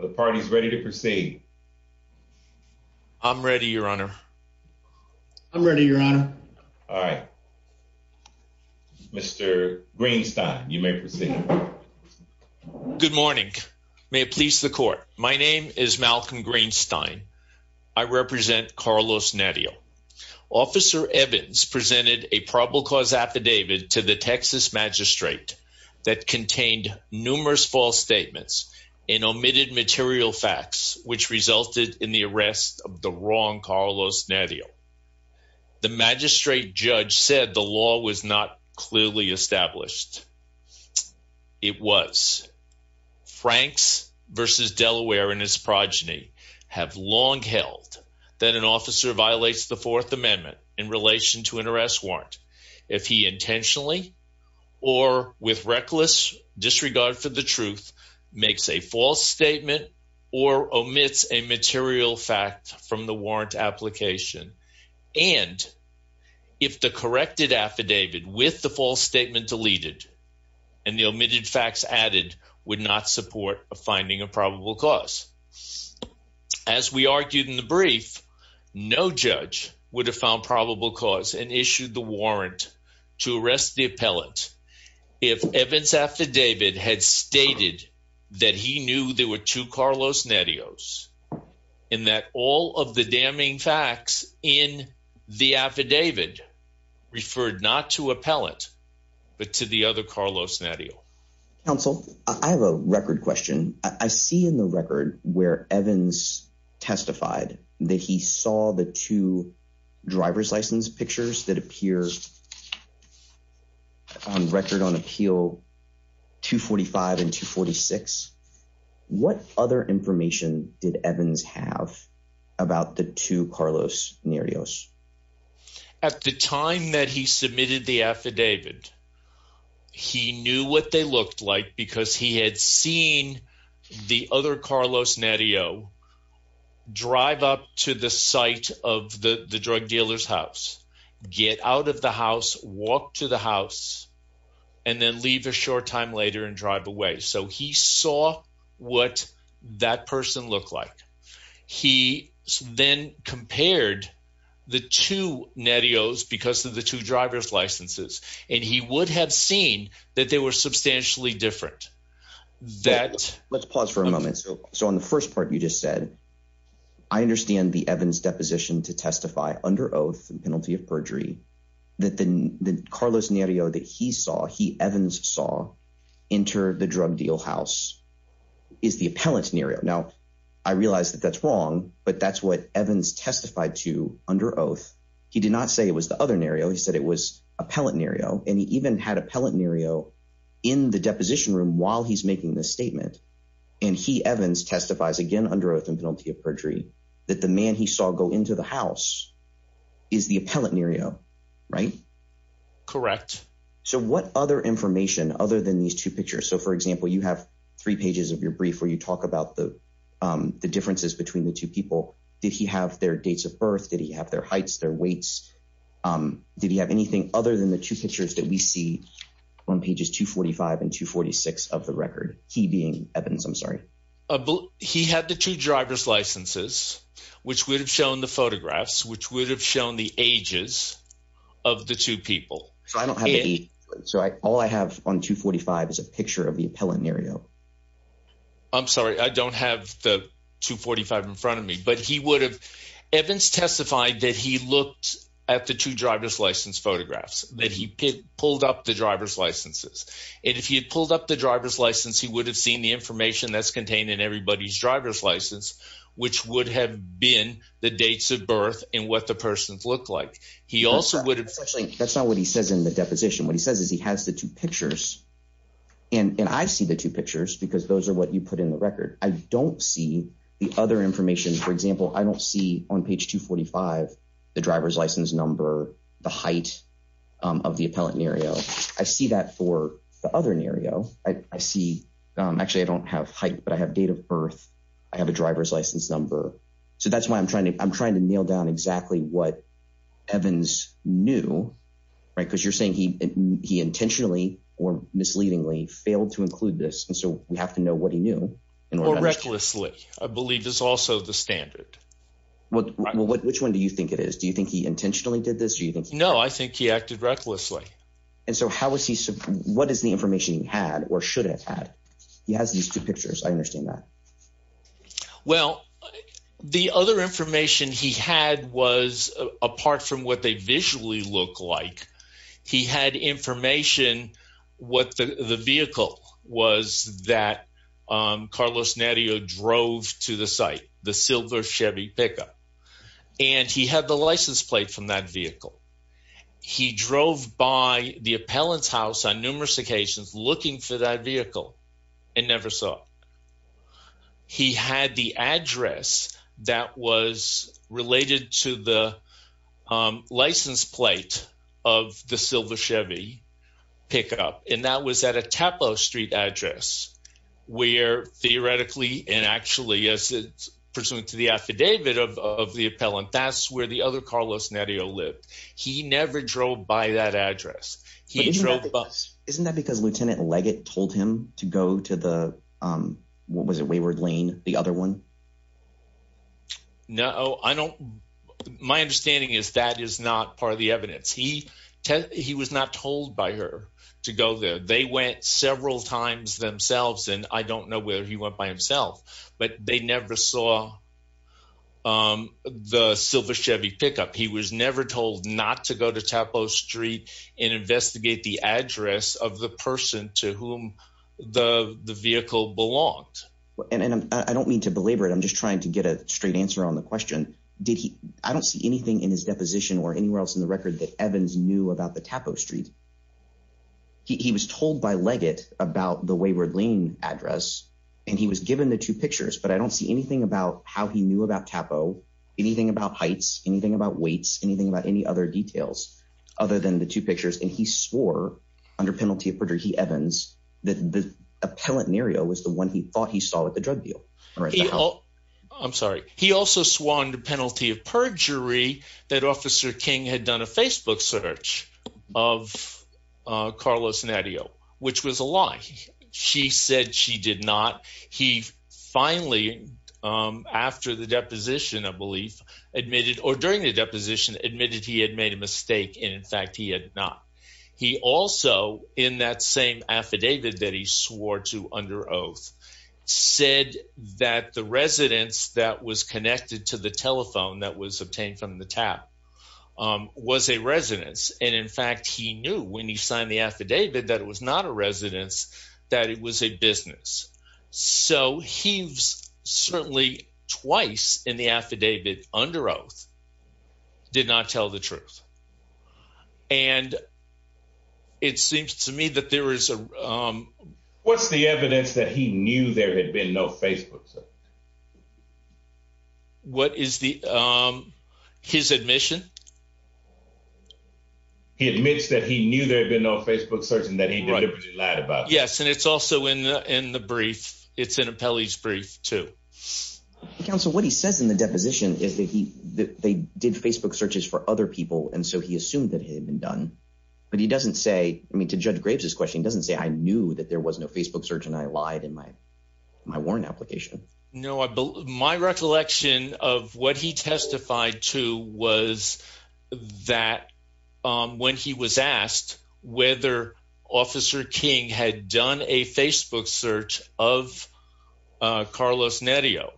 The party's ready to proceed. I'm ready, Your Honor. I'm ready, Your Honor. All right, Mr Greenstein, you may proceed. Good morning. May it please the court. My name is Malcolm Greenstein. I represent Carlos Nerio. Officer Evans presented a probable cause affidavit to the Texas magistrate that contained numerous false statements and omitted material facts which resulted in the arrest of the wrong Carlos Nerio. The magistrate judge said the law was not clearly established. It was. Franks v. Delaware and his progeny have long held that an officer violates the Fourth Amendment in relation to an arrest warrant if he intentionally or with reckless disregard for the truth makes a false statement or omits a material fact from the warrant application and if the corrected affidavit with the false statement deleted and the omitted facts added would not support finding a probable cause. As we argued in the brief, no judge would have found probable cause and issued the warrant to arrest the appellant if Evans' affidavit had stated that he knew there were two Carlos Nerios and that all of the damning facts in the affidavit referred not to appellant but to the other Carlos Nerio. Counsel, I have a record question. I see in the record where Evans testified that he saw the two driver's license pictures that appear on record on appeal 245 and 246. What other information did Evans have about the two Carlos Nerios? At the time that he submitted the affidavit, he knew what they looked like because he had seen the other Carlos Nerio drive up to the site of the drug dealer's house, get out of the house, walk to the house, and then leave a short time later and drive away. So he saw what that looked like. He then compared the two Nerios because of the two driver's licenses and he would have seen that they were substantially different. Let's pause for a moment. So on the first part you just said, I understand the Evans' deposition to testify under oath and penalty of perjury that the Carlos Nerio that he saw, he Evans saw, enter the drug deal house is the appellant Nerio. Now, I realize that that's wrong, but that's what Evans testified to under oath. He did not say it was the other Nerio. He said it was appellant Nerio and he even had appellant Nerio in the deposition room while he's making this statement. And he Evans testifies again under oath and penalty of perjury that the man he saw go into the house is the appellant Nerio, right? Correct. So what other information other than these two pictures? So for example, you have three pages of your brief where you talk about the differences between the two people. Did he have their dates of birth? Did he have their heights, their weights? Did he have anything other than the two pictures that we see on pages 245 and 246 of the record? He being Evans, I'm sorry. He had the two driver's licenses, which would have shown the photographs, which would have shown the ages of the two people. So all I have on 245 is a picture of the appellant Nerio. I'm sorry. I don't have the 245 in front of me, but he would have. Evans testified that he looked at the two driver's license photographs, that he pulled up the driver's licenses. And if he had pulled up the driver's license, he would have seen the information that's contained in everybody's driver's license, which would have been the dates of birth and what the persons looked like. He also would have. Actually, that's not what he says in the deposition. What he says is he has the two pictures and I see the two pictures because those are what you put in the record. I don't see the other information. For example, I don't see on page 245 the driver's license number, the height of the appellant Nerio. I see that for the other Nerio. I see, actually, I don't have height, but I have date of birth. I have a driver's license number. So that's why I'm trying to, I'm trying to nail down exactly what Evans knew, right? Because you're saying he intentionally or misleadingly failed to include this. And so we have to know what he knew. Or recklessly, I believe is also the standard. Well, which one do you think it is? Do you think he intentionally did this? No, I think he acted recklessly. And so how was he, what is the information he had or should have had? He has these two pictures. I understand that. Well, the other information he had was apart from what they visually look like, he had information what the vehicle was that Carlos Nerio drove to the site, the silver Chevy pickup. And he had the license plate from that vehicle. He drove by the appellant's house on he had the address that was related to the license plate of the silver Chevy pickup. And that was at a Tapo street address where theoretically, and actually as it's pursuant to the affidavit of the appellant, that's where the other Carlos Nerio lived. He never drove by that address. He drove by. Isn't that because Lieutenant Leggett told him to go to the what was it wayward lane, the other one? No, I don't. My understanding is that is not part of the evidence. He was not told by her to go there. They went several times themselves. And I don't know whether he went by himself, but they never saw the silver Chevy pickup. He was never told not to go to Tapo street and investigate the address of the person to whom the vehicle belonged. And I don't mean to belabor it. I'm just trying to get a straight answer on the question. Did he? I don't see anything in his deposition or anywhere else in the record that Evans knew about the Tapo street. He was told by Leggett about the wayward lane address and he was given the two pictures, but I don't see anything about how he knew about Tapo, anything about heights, anything about weights, anything about any other details other than the two pictures. And he swore under penalty of perjury, he Evans, that the appellant Nereo was the one he thought he saw at the drug deal. I'm sorry. He also swore under penalty of perjury that Officer King had done a Facebook search of Carlos Nadeo, which was a lie. She said she did not. He finally, after the deposition, I believe, admitted or during the deposition admitted he had made a mistake. And in fact, he had not. He also, in that same affidavit that he swore to under oath, said that the residence that was connected to the telephone that was obtained from the tap was a residence. And in fact, he knew when he signed the affidavit that it was not a residence, that it was a business. So he's certainly twice in the affidavit under oath, did not tell the truth. And it seems to me that there is a what's the evidence that he knew there had been no Facebook? What is the his admission? He admits that he knew there had been no Facebook search and that he lied about. Yes. And it's also in the in the brief. It's an appellee's brief to counsel. What he says in the deposition is that he that they did Facebook searches for other people. And so he assumed that he had been done. But he doesn't say I mean, to judge Graves, his question doesn't say I knew that there was no Facebook search. And I lied in my my warrant application. No, I believe my recollection of what he testified to was that when he was asked whether Officer King had done a Facebook search of Carlos Neto,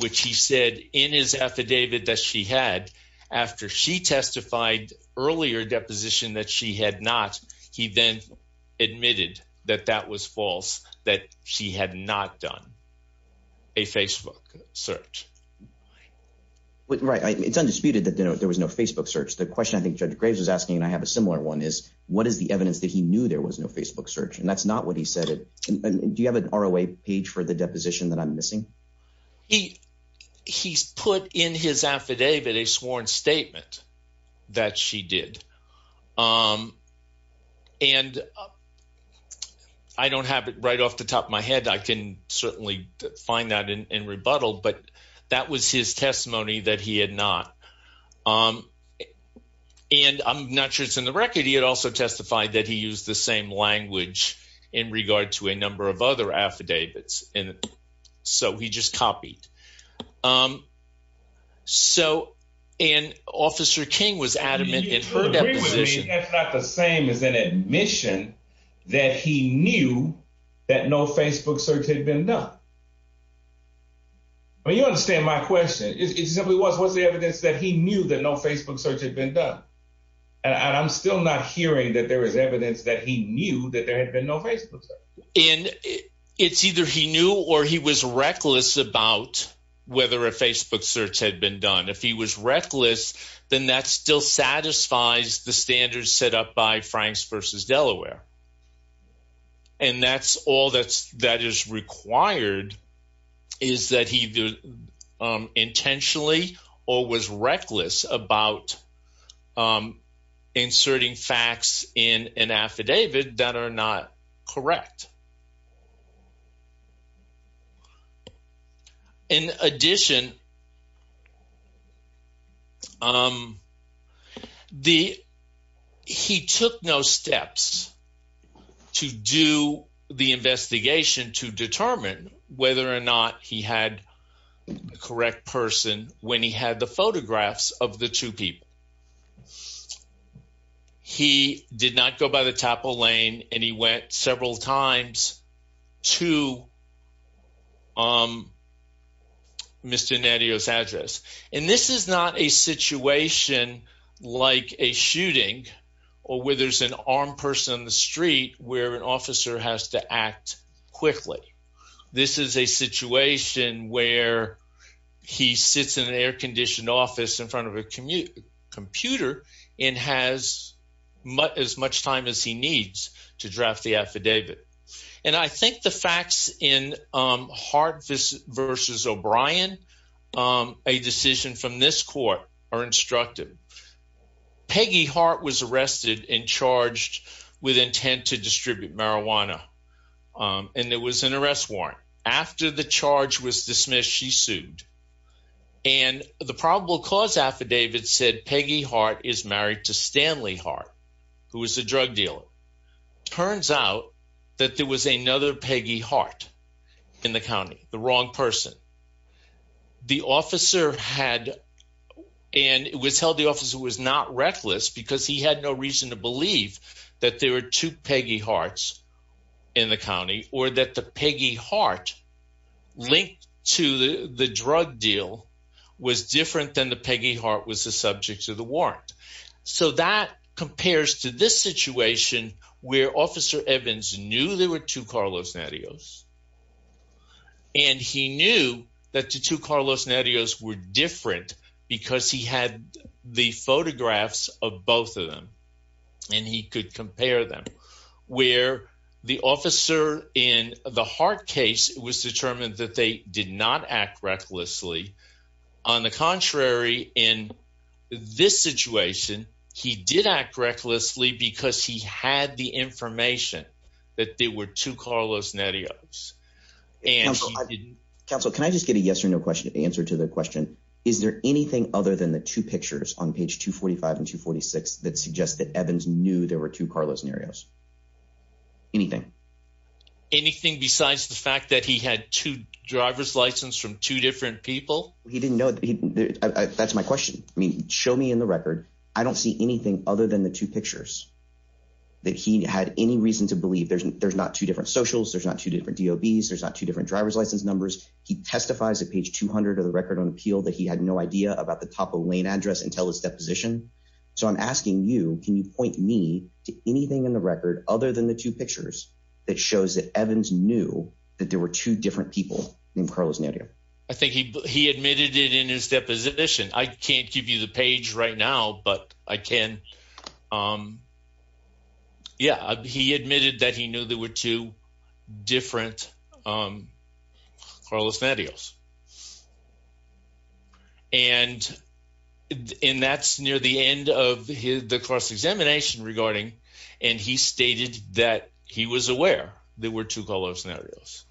which he said in his affidavit that she had after she testified earlier deposition that she had not, he then admitted that that was false, that she had not done a Facebook search. Right. It's undisputed that there was no Facebook search. The question I think Judge Graves was asking, and I have a similar one, is what is the evidence that he knew there was no Facebook search? And that's not what he said. Do you have an hour away page for the deposition that I'm missing? He he's put in his affidavit a sworn statement that she did. And I don't have it right off the top of my head. I can certainly find that in rebuttal. But that was his testimony that he had not. And I'm not sure it's in the record. He had also testified that he used the same language in regard to a number of other affidavits. And so he just copied. So and Officer King was adamant in her position. That's not the same as an admission that he knew that no Facebook search had been done. I mean, you understand my question. It simply was what's the evidence that he knew that no Facebook search had been done? And I'm still not hearing that there is evidence that he knew that there had been no Facebook search. And it's either he knew or he was reckless about whether a Facebook search had been done. If he was reckless, then that still satisfies the standards set up by Franks versus Delaware. And that's all that's that is required is that he intentionally or was reckless about inserting facts in an affidavit that are not correct. In addition, he took no steps to do the investigation to determine whether or not he had the correct person when he had the photographs of the two people. And he did not go by the top of the lane and he went several times to Mr. Nadeau's address. And this is not a situation like a shooting or where there's an armed person on the street where an officer has to act quickly. This is a situation where he sits in an air computer and has as much time as he needs to draft the affidavit. And I think the facts in Hart versus O'Brien, a decision from this court, are instructive. Peggy Hart was arrested and charged with intent to distribute marijuana. And there was an arrest warrant. After the charge was is married to Stanley Hart, who was the drug dealer. Turns out that there was another Peggy Hart in the county, the wrong person. The officer had and it was held the officer was not reckless because he had no reason to believe that there were two Peggy Harts in the county or that the warrant. So that compares to this situation where Officer Evans knew there were two Carlos Nadeaus. And he knew that the two Carlos Nadeaus were different because he had the photographs of both of them. And he could compare them where the officer in the Hart case was determined that they did not act recklessly. On the contrary, in this situation, he did act recklessly because he had the information that there were two Carlos Nadeaus. Counsel, can I just get a yes or no answer to the question? Is there anything other than the two pictures on page 245 and 246 that suggest that Evans knew there were two Carlos Nadeaus? Anything? Anything besides the fact that he had two driver's license from two different people? He didn't know. That's my question. I mean, show me in the record. I don't see anything other than the two pictures that he had any reason to believe there's not two different socials, there's not two different DOBs, there's not two different driver's license numbers. He testifies at page 200 of the record on appeal that he had no idea about the top of lane address until his deposition. So I'm asking you, can you point me to anything in other than the two pictures that shows that Evans knew that there were two different people named Carlos Nadeau? I think he admitted it in his deposition. I can't give you the page right now, but I can. Yeah, he admitted that he knew there were two different Carlos Nadeaus. And that's near the end of the cross-examination regarding, and he stated that he was aware there were two Carlos Nadeaus.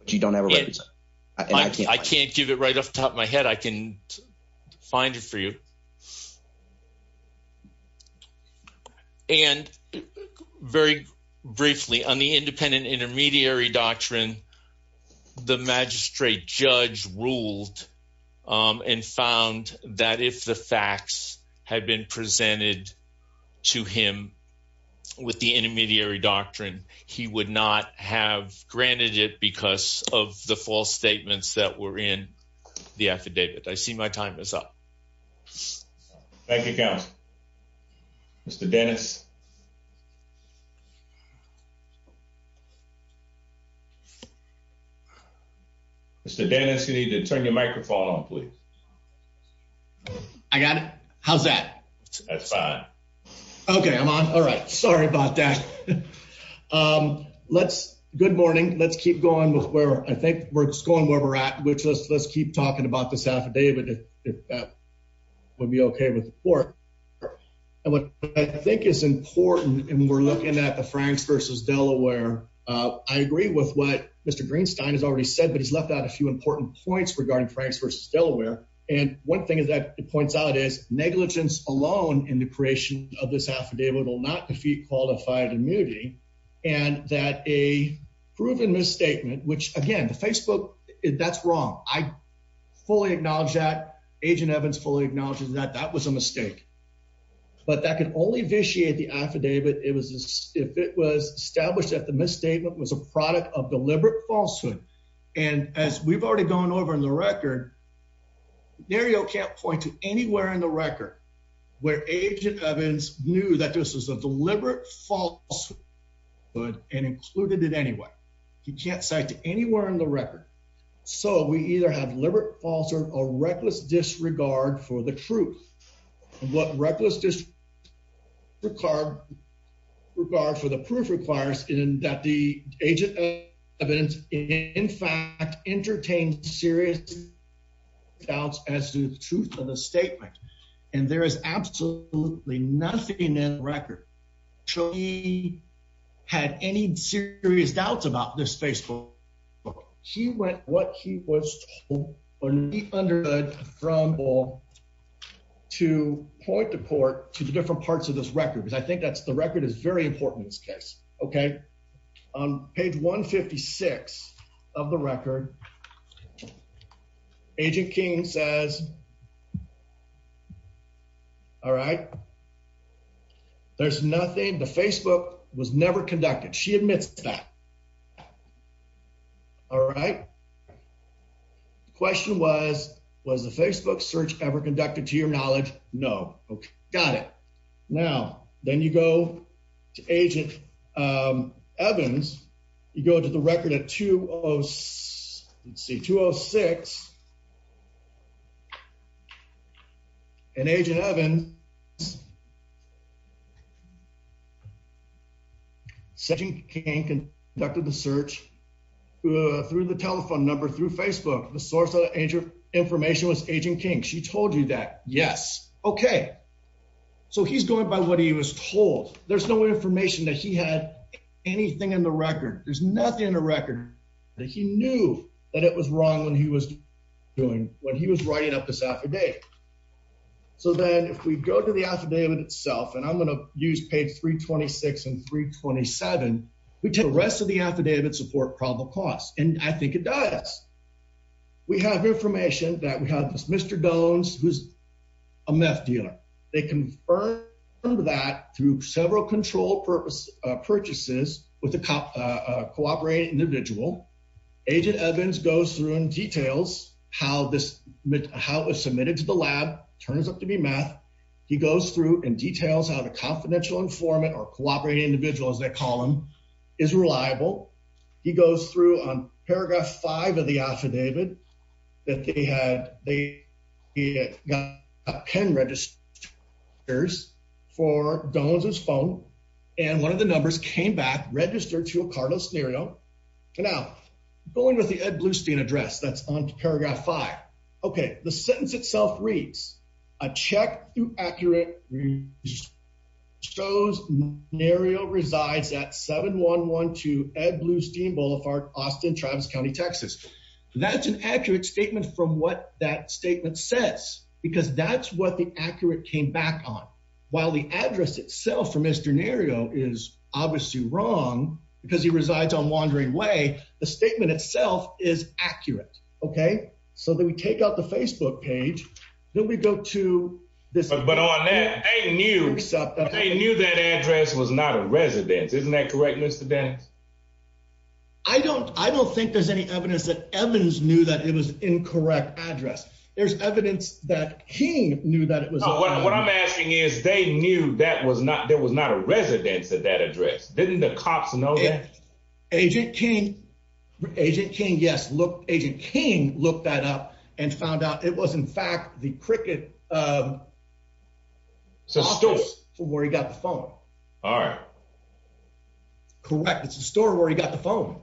But you don't have a record? I can't give it right off the top of my head. I can find it for you. And very briefly, on the independent intermediary doctrine, the magistrate judge ruled and found that if the facts had been presented to him with the intermediary doctrine, he would not have granted it because of the false statements that were in the affidavit. I see my time is up. Thank you, counsel. Mr. Dennis? Mr. Dennis, you need to turn your microphone on, please. I got it. How's that? That's fine. Okay, I'm on. All right. Sorry about that. Good morning. Let's keep going with where, I think we're just going where we're at, which is let's keep talking about this affidavit, if that would be okay with the court. And what I think is important, and we're looking at the affidavit, Mr. Greenstein has already said, but he's left out a few important points regarding Franks v. Delaware. And one thing is that it points out is negligence alone in the creation of this affidavit will not defeat qualified immunity. And that a proven misstatement, which again, the Facebook, that's wrong. I fully acknowledge that. Agent Evans fully acknowledges that that was a mistake. But that can only vitiate the affidavit if it was established that the misstatement was a product of deliberate falsehood. And as we've already gone over in the record, Dario can't point to anywhere in the record where Agent Evans knew that this was a deliberate falsehood and included it anyway. He can't cite to anywhere in the record. So we either have deliberate falsehood or reckless disregard for the truth. What reckless disregard for the proof requires in that the Agent Evans, in fact, entertained serious doubts as to the truth of the statement. And there is absolutely nothing in the record that he had any serious doubts about this Facebook. He went what he was told when he understood from all to point the court to the different parts of this record, because I think that's the record is very important in this case. Okay, on page 1 56 of the record, Agent King says, All right, there's nothing. The Facebook was never conducted. She admits that All right. The question was, was the Facebook search ever conducted to your knowledge? No. Okay, got it. Now, then you go to Agent Evans. You go to the record at 206. And Agent Evans said he can conduct the search through the telephone number through Facebook. The source of the information was Agent King. She told you that? Yes. Okay. So he's going by what he was told. There's no information that he had anything in the record. There's nothing in the record that he knew that it was wrong when he was doing when he was writing up this affidavit. So then if we go to the affidavit itself, and I'm going to use page 326 and 327, we take the rest of the affidavit support probable cause, and I think it does. We have information that we have this Mr. Dones, who's a meth dealer. They confirmed that through several control purpose purchases with a cop, a cooperating individual. Agent Evans goes through and details how this, how it was submitted to the lab, turns up to be meth. He goes through and details how the confidential informant or cooperating individual, as they call them, is reliable. He goes through on paragraph five of the affidavit that they had, they got pen registers for Dones' phone. And one of the numbers came back registered to a cardless scenario. Now, going with the Ed Blustein address that's on paragraph five. Okay, the sentence itself reads, a check through accurate shows Nario resides at 7112 Ed Blustein Boulevard, Austin, Travis County, Texas. That's an accurate statement from what that statement says, because that's what the accurate came back on. While the address itself for Mr. Nario is obviously wrong because he resides on Wandering Way, the statement itself is accurate. Okay, so then we take out the Facebook page, then we go to this- But on that, they knew that address was not a residence. Isn't that correct, Mr. Dones? I don't think there's any evidence that Evans knew that it was an incorrect address. There's evidence that he knew that it was- No, what I'm asking is, they knew that there was not a residence at that address. Didn't the cops know that? Agent King, yes, Agent King looked that up and found out it was, in fact, the cricket office where he got the phone. All right. Correct. It's the store where he got the phone.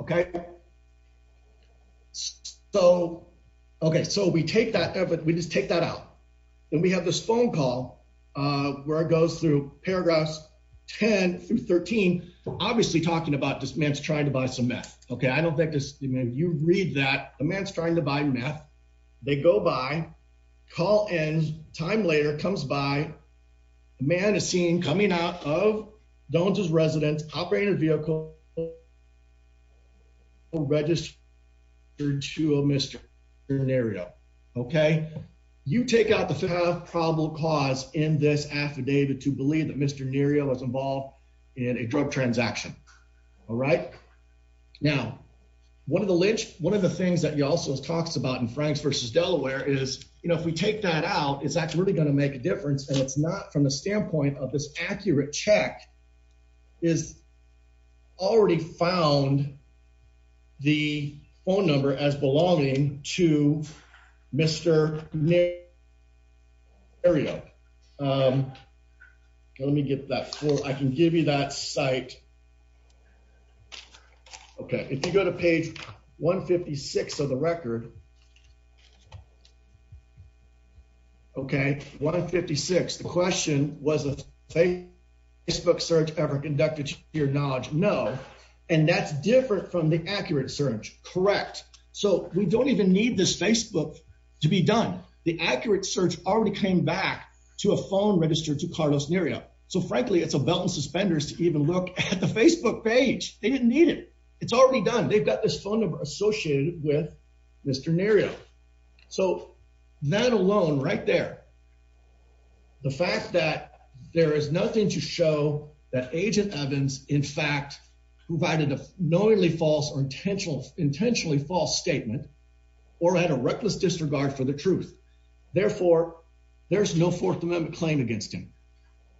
Okay. So, okay, so we take that evidence, we just take that out. Then we have this phone call where it goes through paragraphs 10 through 13, obviously talking about this man's trying to buy some meth. Okay, I don't think this- You read that, the man's trying to buy meth. They go by, call ends, time later comes by, the man is seen coming out of Dones' residence, operated vehicle, registered to a Mr. Nerio. Okay, you take out the probable cause in this affidavit to believe that Mr. Nerio was involved in a drug transaction. All right. Now, one of the lynch, one of the things that you also talked about in Franks v. Delaware is, you know, if we take that out, is that really going to make a difference? And it's not from the standpoint of accurate check is already found the phone number as belonging to Mr. Nerio. Let me get that. I can give you that site. Okay. If you go to page 156 of the record, okay, 156. The question was, was a Facebook search ever conducted to your knowledge? No. And that's different from the accurate search. Correct. So we don't even need this Facebook to be done. The accurate search already came back to a phone registered to Carlos Nerio. So frankly, it's a belt and suspenders to even look at the Facebook page. They didn't need it. It's already done. They've got this phone number associated with Mr. Nerio. So that alone right there, the fact that there is nothing to show that agent Evans, in fact, provided a knowingly false or intentional intentionally false statement or at a reckless disregard for the truth. Therefore, there's no fourth amendment claim against him.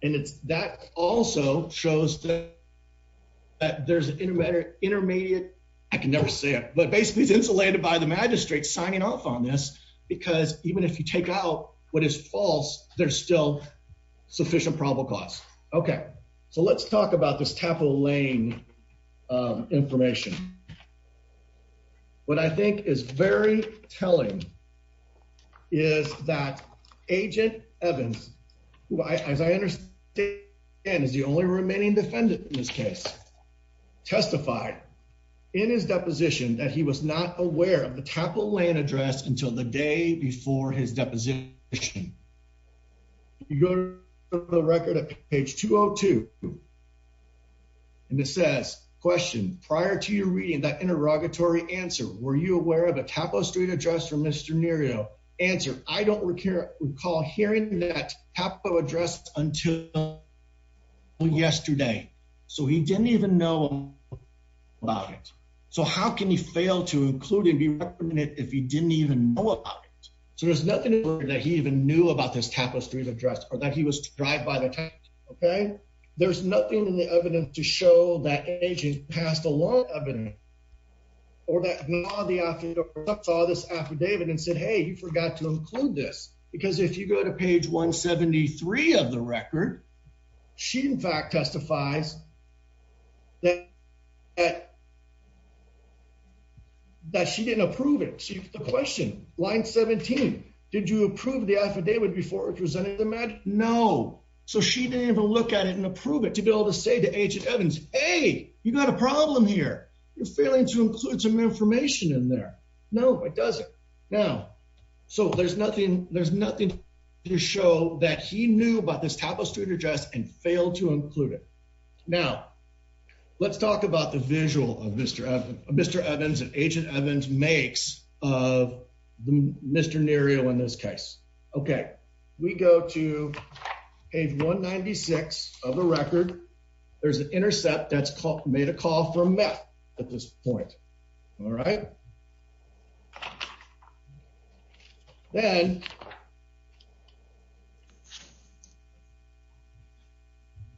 And it's that also shows that there's an intermediate intermediate. I can never say it, but basically is insulated by the magistrate signing off on this, because even if you take out what is false, there's still sufficient probable cause. Okay, so let's talk about this capital lane information. What I think is very telling is that agent Evans, as I understand, is the only remaining defendant in this case, testified in his deposition that he was not aware of the capital land address until the day before his deposition. You go to the record at page 202. And it says question prior to your reading that interrogatory answer. Were you aware of a capital street address from Mr. Answer. I don't recall hearing that capital address until yesterday, so he didn't even know about it. So how can you fail to include and be reprimanded if he didn't even know about it? So there's nothing that he even knew about this tapestry of address or that he was drive by the time. Okay, there's nothing in the evidence to show that agent passed along evidence or that the afternoon saw this affidavit and said, Hey, you forgot to include this because if you go to page 1 73 of the record, she in fact testifies that that she didn't approve it. The question line 17. Did you approve the affidavit before it presented the match? No. So she didn't even look at it and approve it to build a say to agent Evans. Hey, you got a problem here. You're failing to include some information in there. No, it doesn't now. So there's nothing. There's nothing to show that he knew about this tapestry address and failed to include it. Now, let's talk about the visual of Mr. Mr Evans and Agent Evans makes of Mr Nerio in this case. Okay, we go to page 1 96 of the record. There's an intercept that's called made a call from meth at this point. All right. Then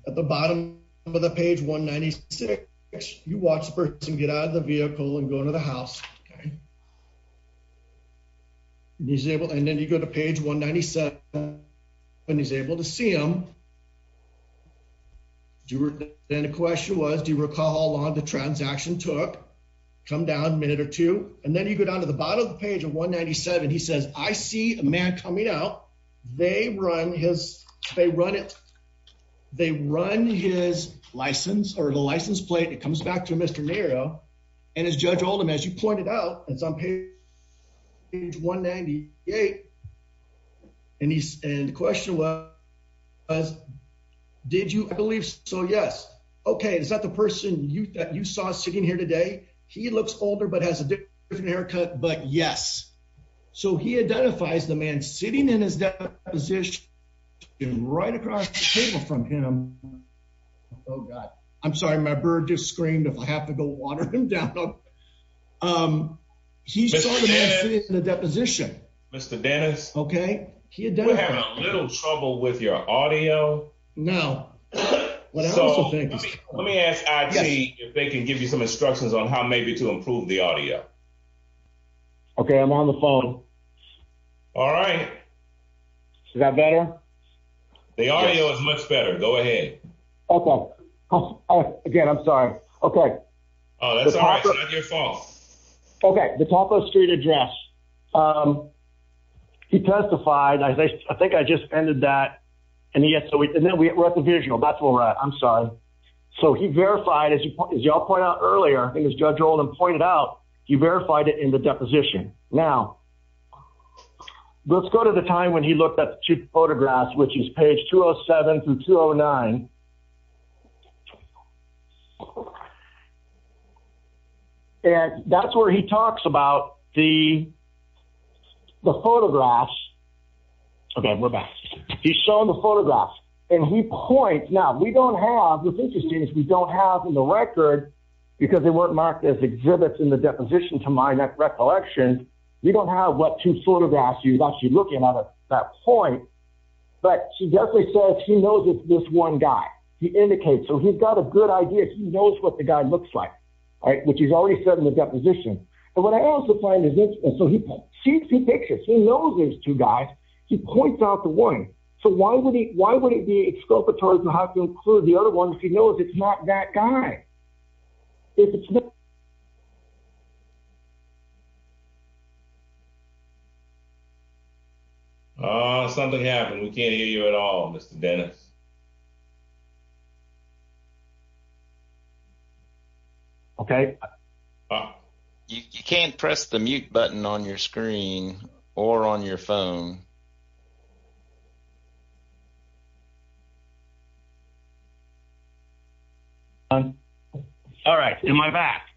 at the bottom of the page 1 96, you watch the person get out of the vehicle and go into the house. He's able. And then you go to page 1 97 when he's able to see him. Then the question was, do you recall how long the transaction took come down a minute or two? And then you go down to the bottom of the page of 1 97. He says, I see a man coming out. They run his, they run it. They run his license or the license plate. It comes back to Mr Nerio and his judge Oldham, as you pointed out, it's on page 1 98 and he's in question. Did you believe so? Yes. Okay. Is that the person that you saw sitting here today? He looks older, but has a different haircut, but yes. So he identifies the man sitting in his deposition right across the table from him. Oh God. I'm sorry. My bird just screamed. If I have to go water him down. Um, he saw the man sitting in the deposition, Mr. Dennis. Okay. He had a little trouble with your audio. No. Let me ask if they can give you some instructions on how maybe to improve the audio. Okay. I'm on the phone. All right. Is that better? The audio is much better. Go ahead. Okay. Again, I'm sorry. Okay. Oh, that's all right. It's not your fault. Okay. The top of the street address. Um, he testified. I think I just ended that and he asked, so we, and then we wrote the visual. That's where we're at. I'm sorry. So he verified as you all point out earlier, I think as judge Roland pointed out, you verified it in the deposition. Now let's go to the time when he looked at the two photographs, which is page two Oh seven through two Oh nine. And that's where he talks about the photographs. Okay. We're back. He's showing the because they weren't marked as exhibits in the deposition to my recollection. We don't have what to sort of ask you about. You're looking at that point, but she definitely says she knows it's this one guy. He indicates, so he's got a good idea. He knows what the guy looks like, right? Which he's already said in the deposition. And what I also find is this. And so he sees the pictures. He knows there's two guys. He points out the one. So why would he, why would it be exculpatory to have to include the other ones? He knows it's not that guy. Is it something happened? We can't hear you at all. Mr. Dennis. Okay. You can't press the mute button on your screen or on your phone. All right. Am I back?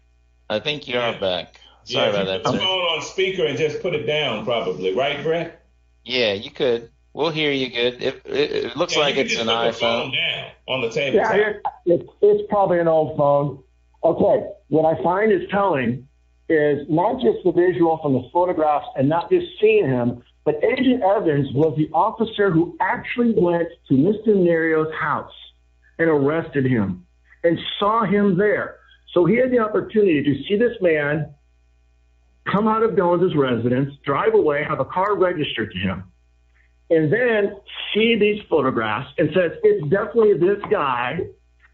I think you're back on speaker and just put it down probably, right? Yeah, you could. We'll hear you. Good. It looks like it's an iPhone on the table. It's probably an old phone. Okay. What I find is telling is not just the visual from the photographs and not just seeing him, but agent Evans was the officer who actually went to Mr. House and arrested him and saw him there. So he had the opportunity to see this man come out of Jones's residence, drive away, have a car registered to him. And then see these photographs and says, it's definitely this guy.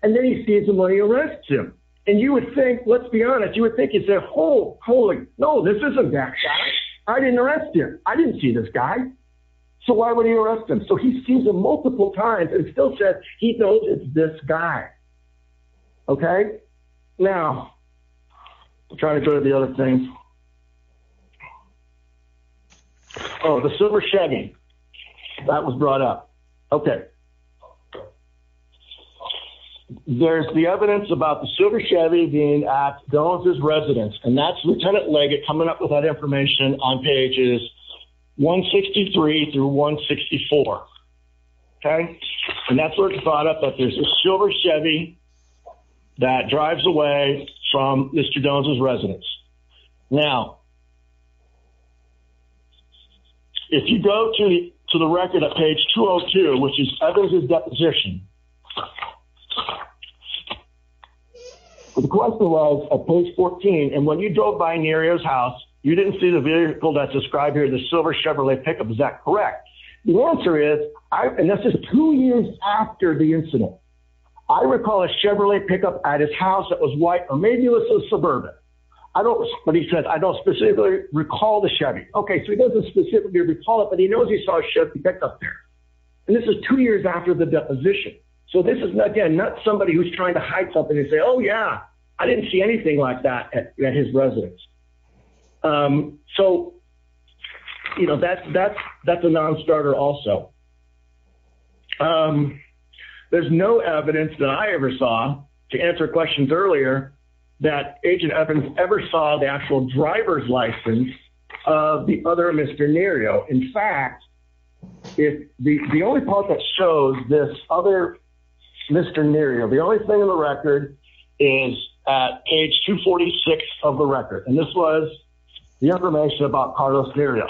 And then he sees the money arrests him. And you would think, let's be honest. You would think it's a whole holy. No, this isn't that guy. I didn't arrest him. I didn't see this guy. So why would he arrest him? So he sees him multiple times and still says he knows it's this guy. Okay. Now I'm trying to go to the other thing. Oh, the silver Chevy that was brought up. Okay. There's the evidence about the silver Chevy being at Jones's residence and that's Lieutenant Leggett coming up with that information on pages 163 through 164. Okay. And that's where it's brought up that there's a silver Chevy that drives away from Mr. Jones's residence. Now, if you go to the, to the record at page 202, which is others, his deposition was a post 14. And when you drove by an area's house, you didn't see the vehicle that's described here. The silver Chevrolet pickup. Is that correct? The answer is I, and that's just two years after the incident, I recall a Chevrolet pickup at his house. That was white or maybe it was a suburban. I don't, but he said, I don't specifically recall the Chevy. Okay. So he doesn't specifically recall it, but he knows he saw a Chevy pickup there. And this is two years after the deposition. So this is again, not somebody who's trying to hide something and say, oh yeah, I didn't see anything like that at his residence. So, you know, that's, that's, that's a non-starter also. There's no evidence that I ever saw to answer questions earlier that agent Evans ever saw the actual driver's license of the other Mr. Nerio. In fact, if the only part that shows this other Mr. Nerio, the only thing in the record is at age two 46 of the record. And this was the information about Carlos Nerio.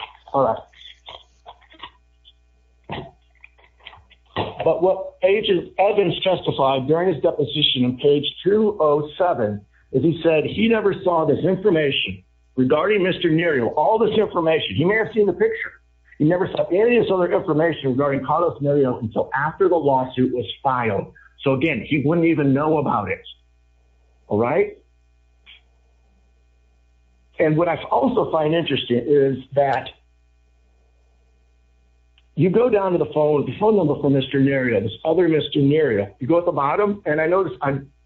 But what agent Evans testified during his deposition on page two Oh seven, is he said he never saw this information regarding Mr. Nerio, all this information. He may have seen the picture. He never saw any of this other information regarding Carlos Nerio until after the lawsuit was filed. So again, he wouldn't even know about it. All right. And what I also find interesting is that you go down to the phone, the phone number for Mr. Nerio, this other Mr. Nerio, you go at the bottom and I noticed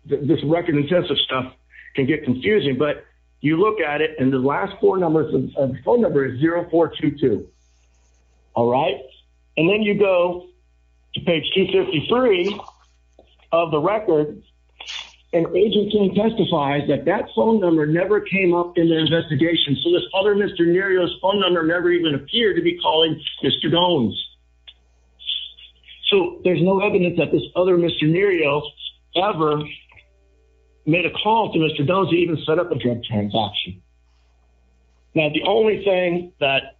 this record intensive stuff can get confusing, but you look at it and the last four numbers and phone number is zero four two two. All right. And then you go to page two 53 of the record. And agent King testifies that that phone number never came up in the investigation. So this other Mr. Nerio's phone number never even appeared to be calling Mr. Jones. So there's no evidence that this other Mr. Nerio ever made a call to Mr. Don't even set the transaction. Now, the only thing that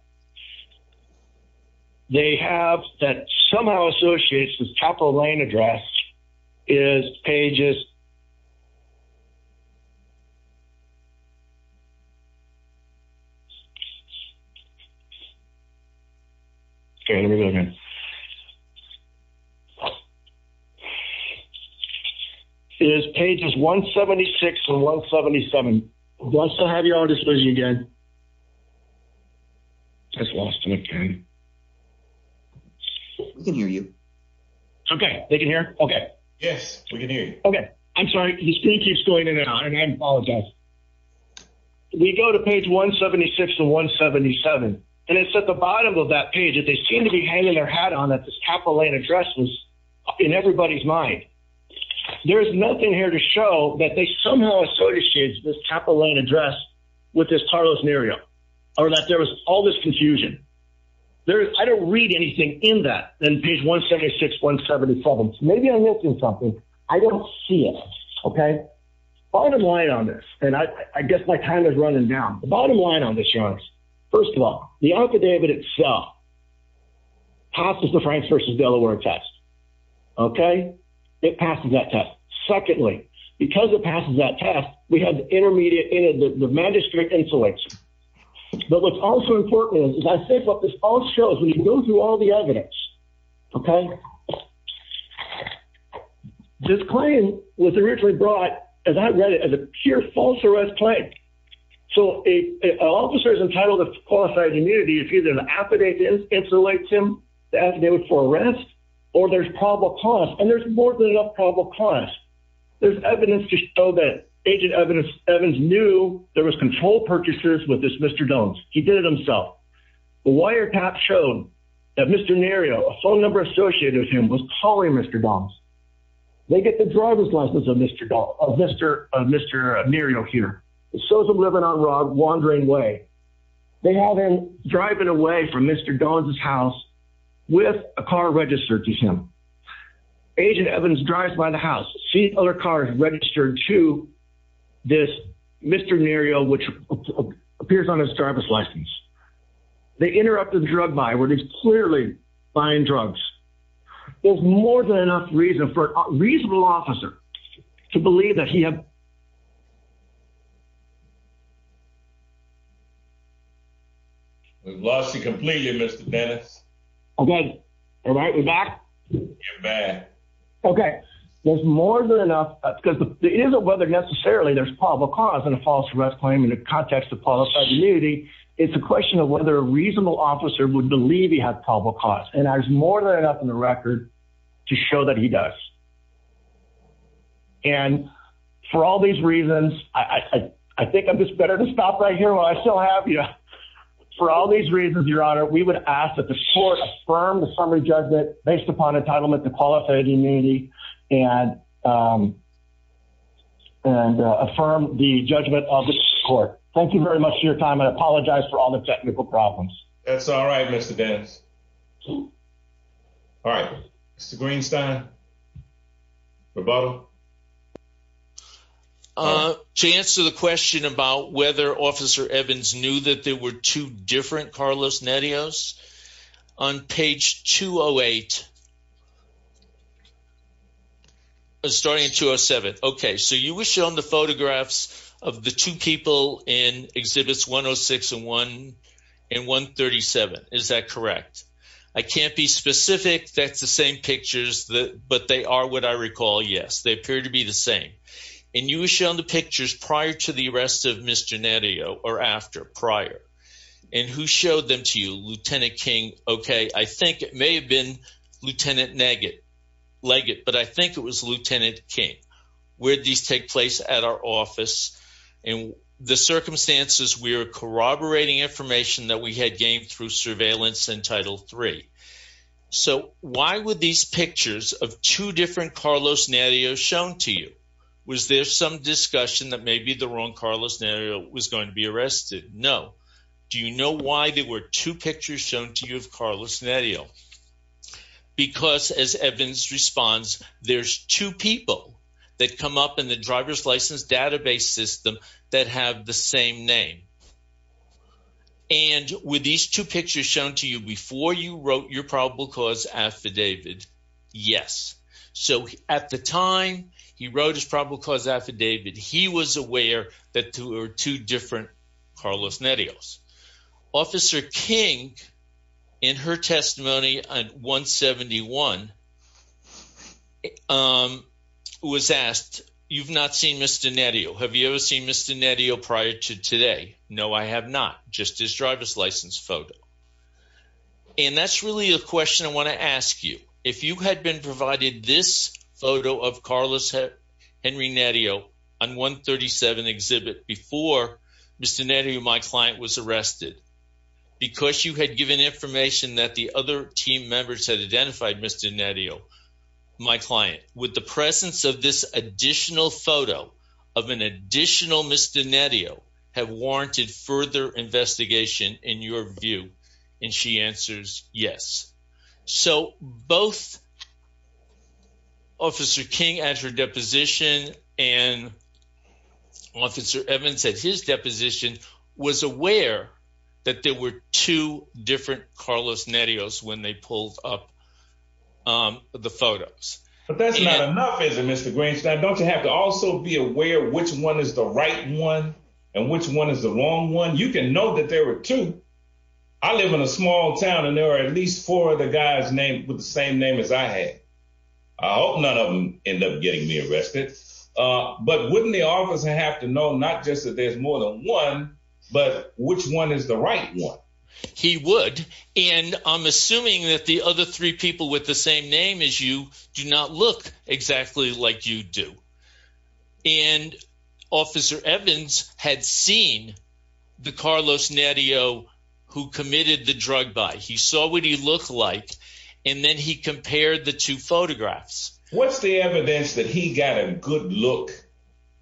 they have that somehow associates with Capitol Lane address is pages. Okay, let me go again. It is pages 176 and 177. Who wants to have your own disclosure again? I just lost him again. We can hear you. Okay. They can hear. Okay. Yes, we can hear you. Okay. I'm sorry. The screen keeps going in and out and I apologize. We go to page 176 to 177. And it's at the bottom of that page that they seem to be hanging their hat on that this Capitol Lane address was in everybody's mind. There is nothing here to show that they somehow associated this Capitol Lane address with this Carlos Nerio or that there was all this confusion. There's I don't read anything in that then page 176 177. Maybe I'm missing something. I don't see it. Okay. Bottom line on this, and I guess my time is running down the bottom line on this, y'all. First of all, the affidavit itself passes the France versus Delaware test. Okay, it passes that test. Secondly, because it passes that test, we have intermediate in the magistrate insulation. But what's also important is I think what this all shows when you go through all the evidence. Okay. This claim was originally brought as I read it as a pure false arrest claim. So a officer is entitled to qualified immunity if either an affidavit insulates him, the affidavit for arrest, or there's probable cause and there's more than enough probable cause. There's evidence to show that agent evidence Evans knew there was control purchases with this Mr. Dones. He did it himself. The wiretap shown that Mr. Nerio, a phone number associated with him was calling Mr. Dones. They get the driver's license of Mr. Dones, of Mr. Nerio here. It shows him living on the road, wandering away. They have him driving away from Mr. Dones' house with a car registered to him. Agent Evans drives by the house, sees other cars registered to this Mr. Nerio, which appears on his driver's license. They interrupt the drug buy where they clearly buying drugs. There's more than enough reason for a reasonable officer to believe that he had probable cause. There's more than enough because it isn't whether necessarily there's probable cause in a false arrest claim in the context of qualified immunity. It's a question of whether a reasonable officer would believe he had probable cause. And there's more than enough in the record to show that he does. And for all these reasons, I think I'm just better to stop right here while I still have you. For all these reasons, Your Honor, we would ask that the court affirm the summary judgment based upon entitlement to qualified immunity and affirm the judgment of the court. Thank you very much for your time. I apologize for all the technical problems. That's all right, Mr. Dones. All right, Mr. Greenstein, Roboto. To answer the question about whether Officer Evans knew that there were two different Carlos Nerios on page 208, starting in 207. Okay, so you were shown the photographs of the two people in exhibits 106 and 137. Is that correct? I can't be specific. That's the same pictures, but they are what I recall. Yes, they appear to be the same. And you were shown the pictures prior to the arrest of Mr. Nerio or after, prior. And who showed them to you? Lieutenant King. Okay, I think it may have been Lieutenant Leggett, but I think it was Lieutenant King. Where did these take place? At our office. In the circumstances, we were corroborating information that we had through surveillance in Title III. So why were these pictures of two different Carlos Nerios shown to you? Was there some discussion that maybe the wrong Carlos Nerio was going to be arrested? No. Do you know why there were two pictures shown to you of Carlos Nerio? Because as Evans responds, there's two people that come up in the driver's license database system that have the same name. And were these two pictures shown to you before you wrote your probable cause affidavit? Yes. So at the time he wrote his probable cause affidavit, he was aware that there were two different Carlos Nerios. Officer King, in her testimony on 171, um, was asked, you've not seen Mr. Nerio. Have you ever seen Mr. Nerio prior to today? No, I have not. Just his driver's license photo. And that's really a question I want to ask you. If you had been provided this photo of Carlos Henry Nerio on 137 Exhibit before Mr. Nerio, my client, was arrested, because you had given information that the other team members had Mr. Nerio, my client, would the presence of this additional photo of an additional Mr. Nerio have warranted further investigation in your view? And she answers, yes. So both Officer King at her deposition and Officer Evans at his deposition was aware that there were two Carlos Nerios when they pulled up the photos. But that's not enough, is it, Mr. Greenstein? Don't you have to also be aware which one is the right one and which one is the wrong one? You can know that there were two. I live in a small town and there are at least four other guys with the same name as I had. I hope none of them end up getting me arrested. But wouldn't the officer have to know just that there's more than one, but which one is the right one? He would. And I'm assuming that the other three people with the same name as you do not look exactly like you do. And Officer Evans had seen the Carlos Nerio who committed the drug buy. He saw what he looked like. And then he compared the two photographs. What's the evidence that he got a good look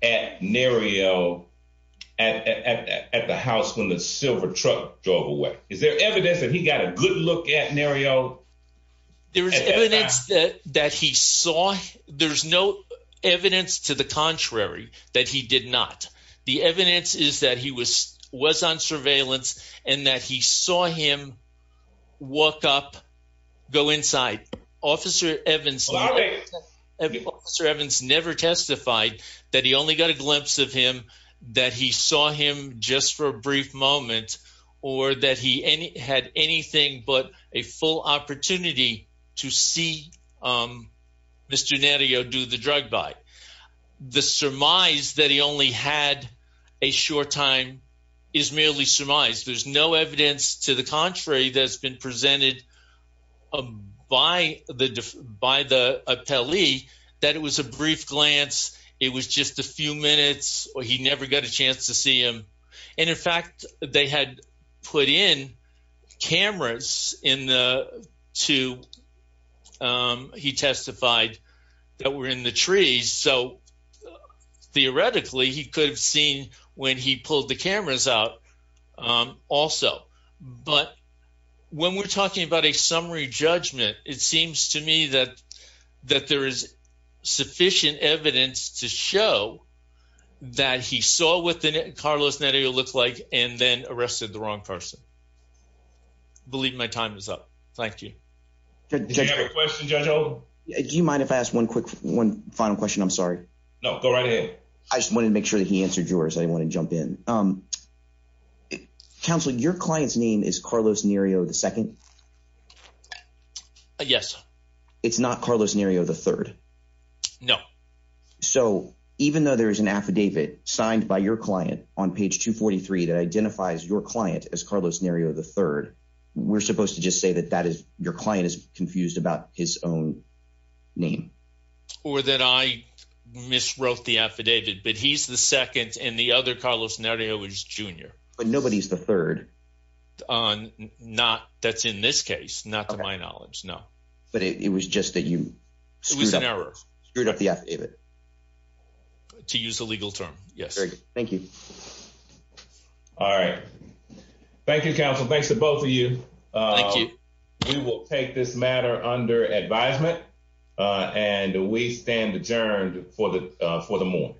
at Nerio at the house when the silver truck drove away? Is there evidence that he got a good look at Nerio? There is evidence that he saw. There's no evidence to the contrary that he did not. The evidence is that he was on surveillance and that he saw him walk up, go inside. Officer Evans never testified that he only got a glimpse of him, that he saw him just for a brief moment or that he had anything but a full opportunity to see Mr. Nerio do the drug buy. The surmise that he only had a short time is merely surmise. There's no evidence to contrary that's been presented by the appellee that it was a brief glance, it was just a few minutes, or he never got a chance to see him. And in fact, they had put in cameras in the two, he testified, that were in the trees. So theoretically, he could have seen when he When we're talking about a summary judgment, it seems to me that that there is sufficient evidence to show that he saw what Carlos Nerio looked like and then arrested the wrong person. I believe my time is up. Thank you. Do you have a question, Judge Oldham? Do you mind if I ask one quick one final question? I'm sorry. No, go right ahead. I just wanted to make sure that he answered yours. I didn't want to jump in. Counselor, your client's name is Carlos Nerio, the second? Yes. It's not Carlos Nerio, the third? No. So even though there is an affidavit signed by your client on page 243 that identifies your client as Carlos Nerio, the third, we're supposed to just say that that is your client is confused about his own name? Or that I miswrote the affidavit, but he's the second and the other Carlos Nerio is the junior. But nobody's the third. Not that's in this case, not to my knowledge. No. But it was just that you. It was an error. Screwed up the affidavit. To use a legal term. Yes. Very good. Thank you. All right. Thank you, counsel. Thanks to both of you. Thank you. We will take this matter under advisement and we stand adjourned for the for the morning.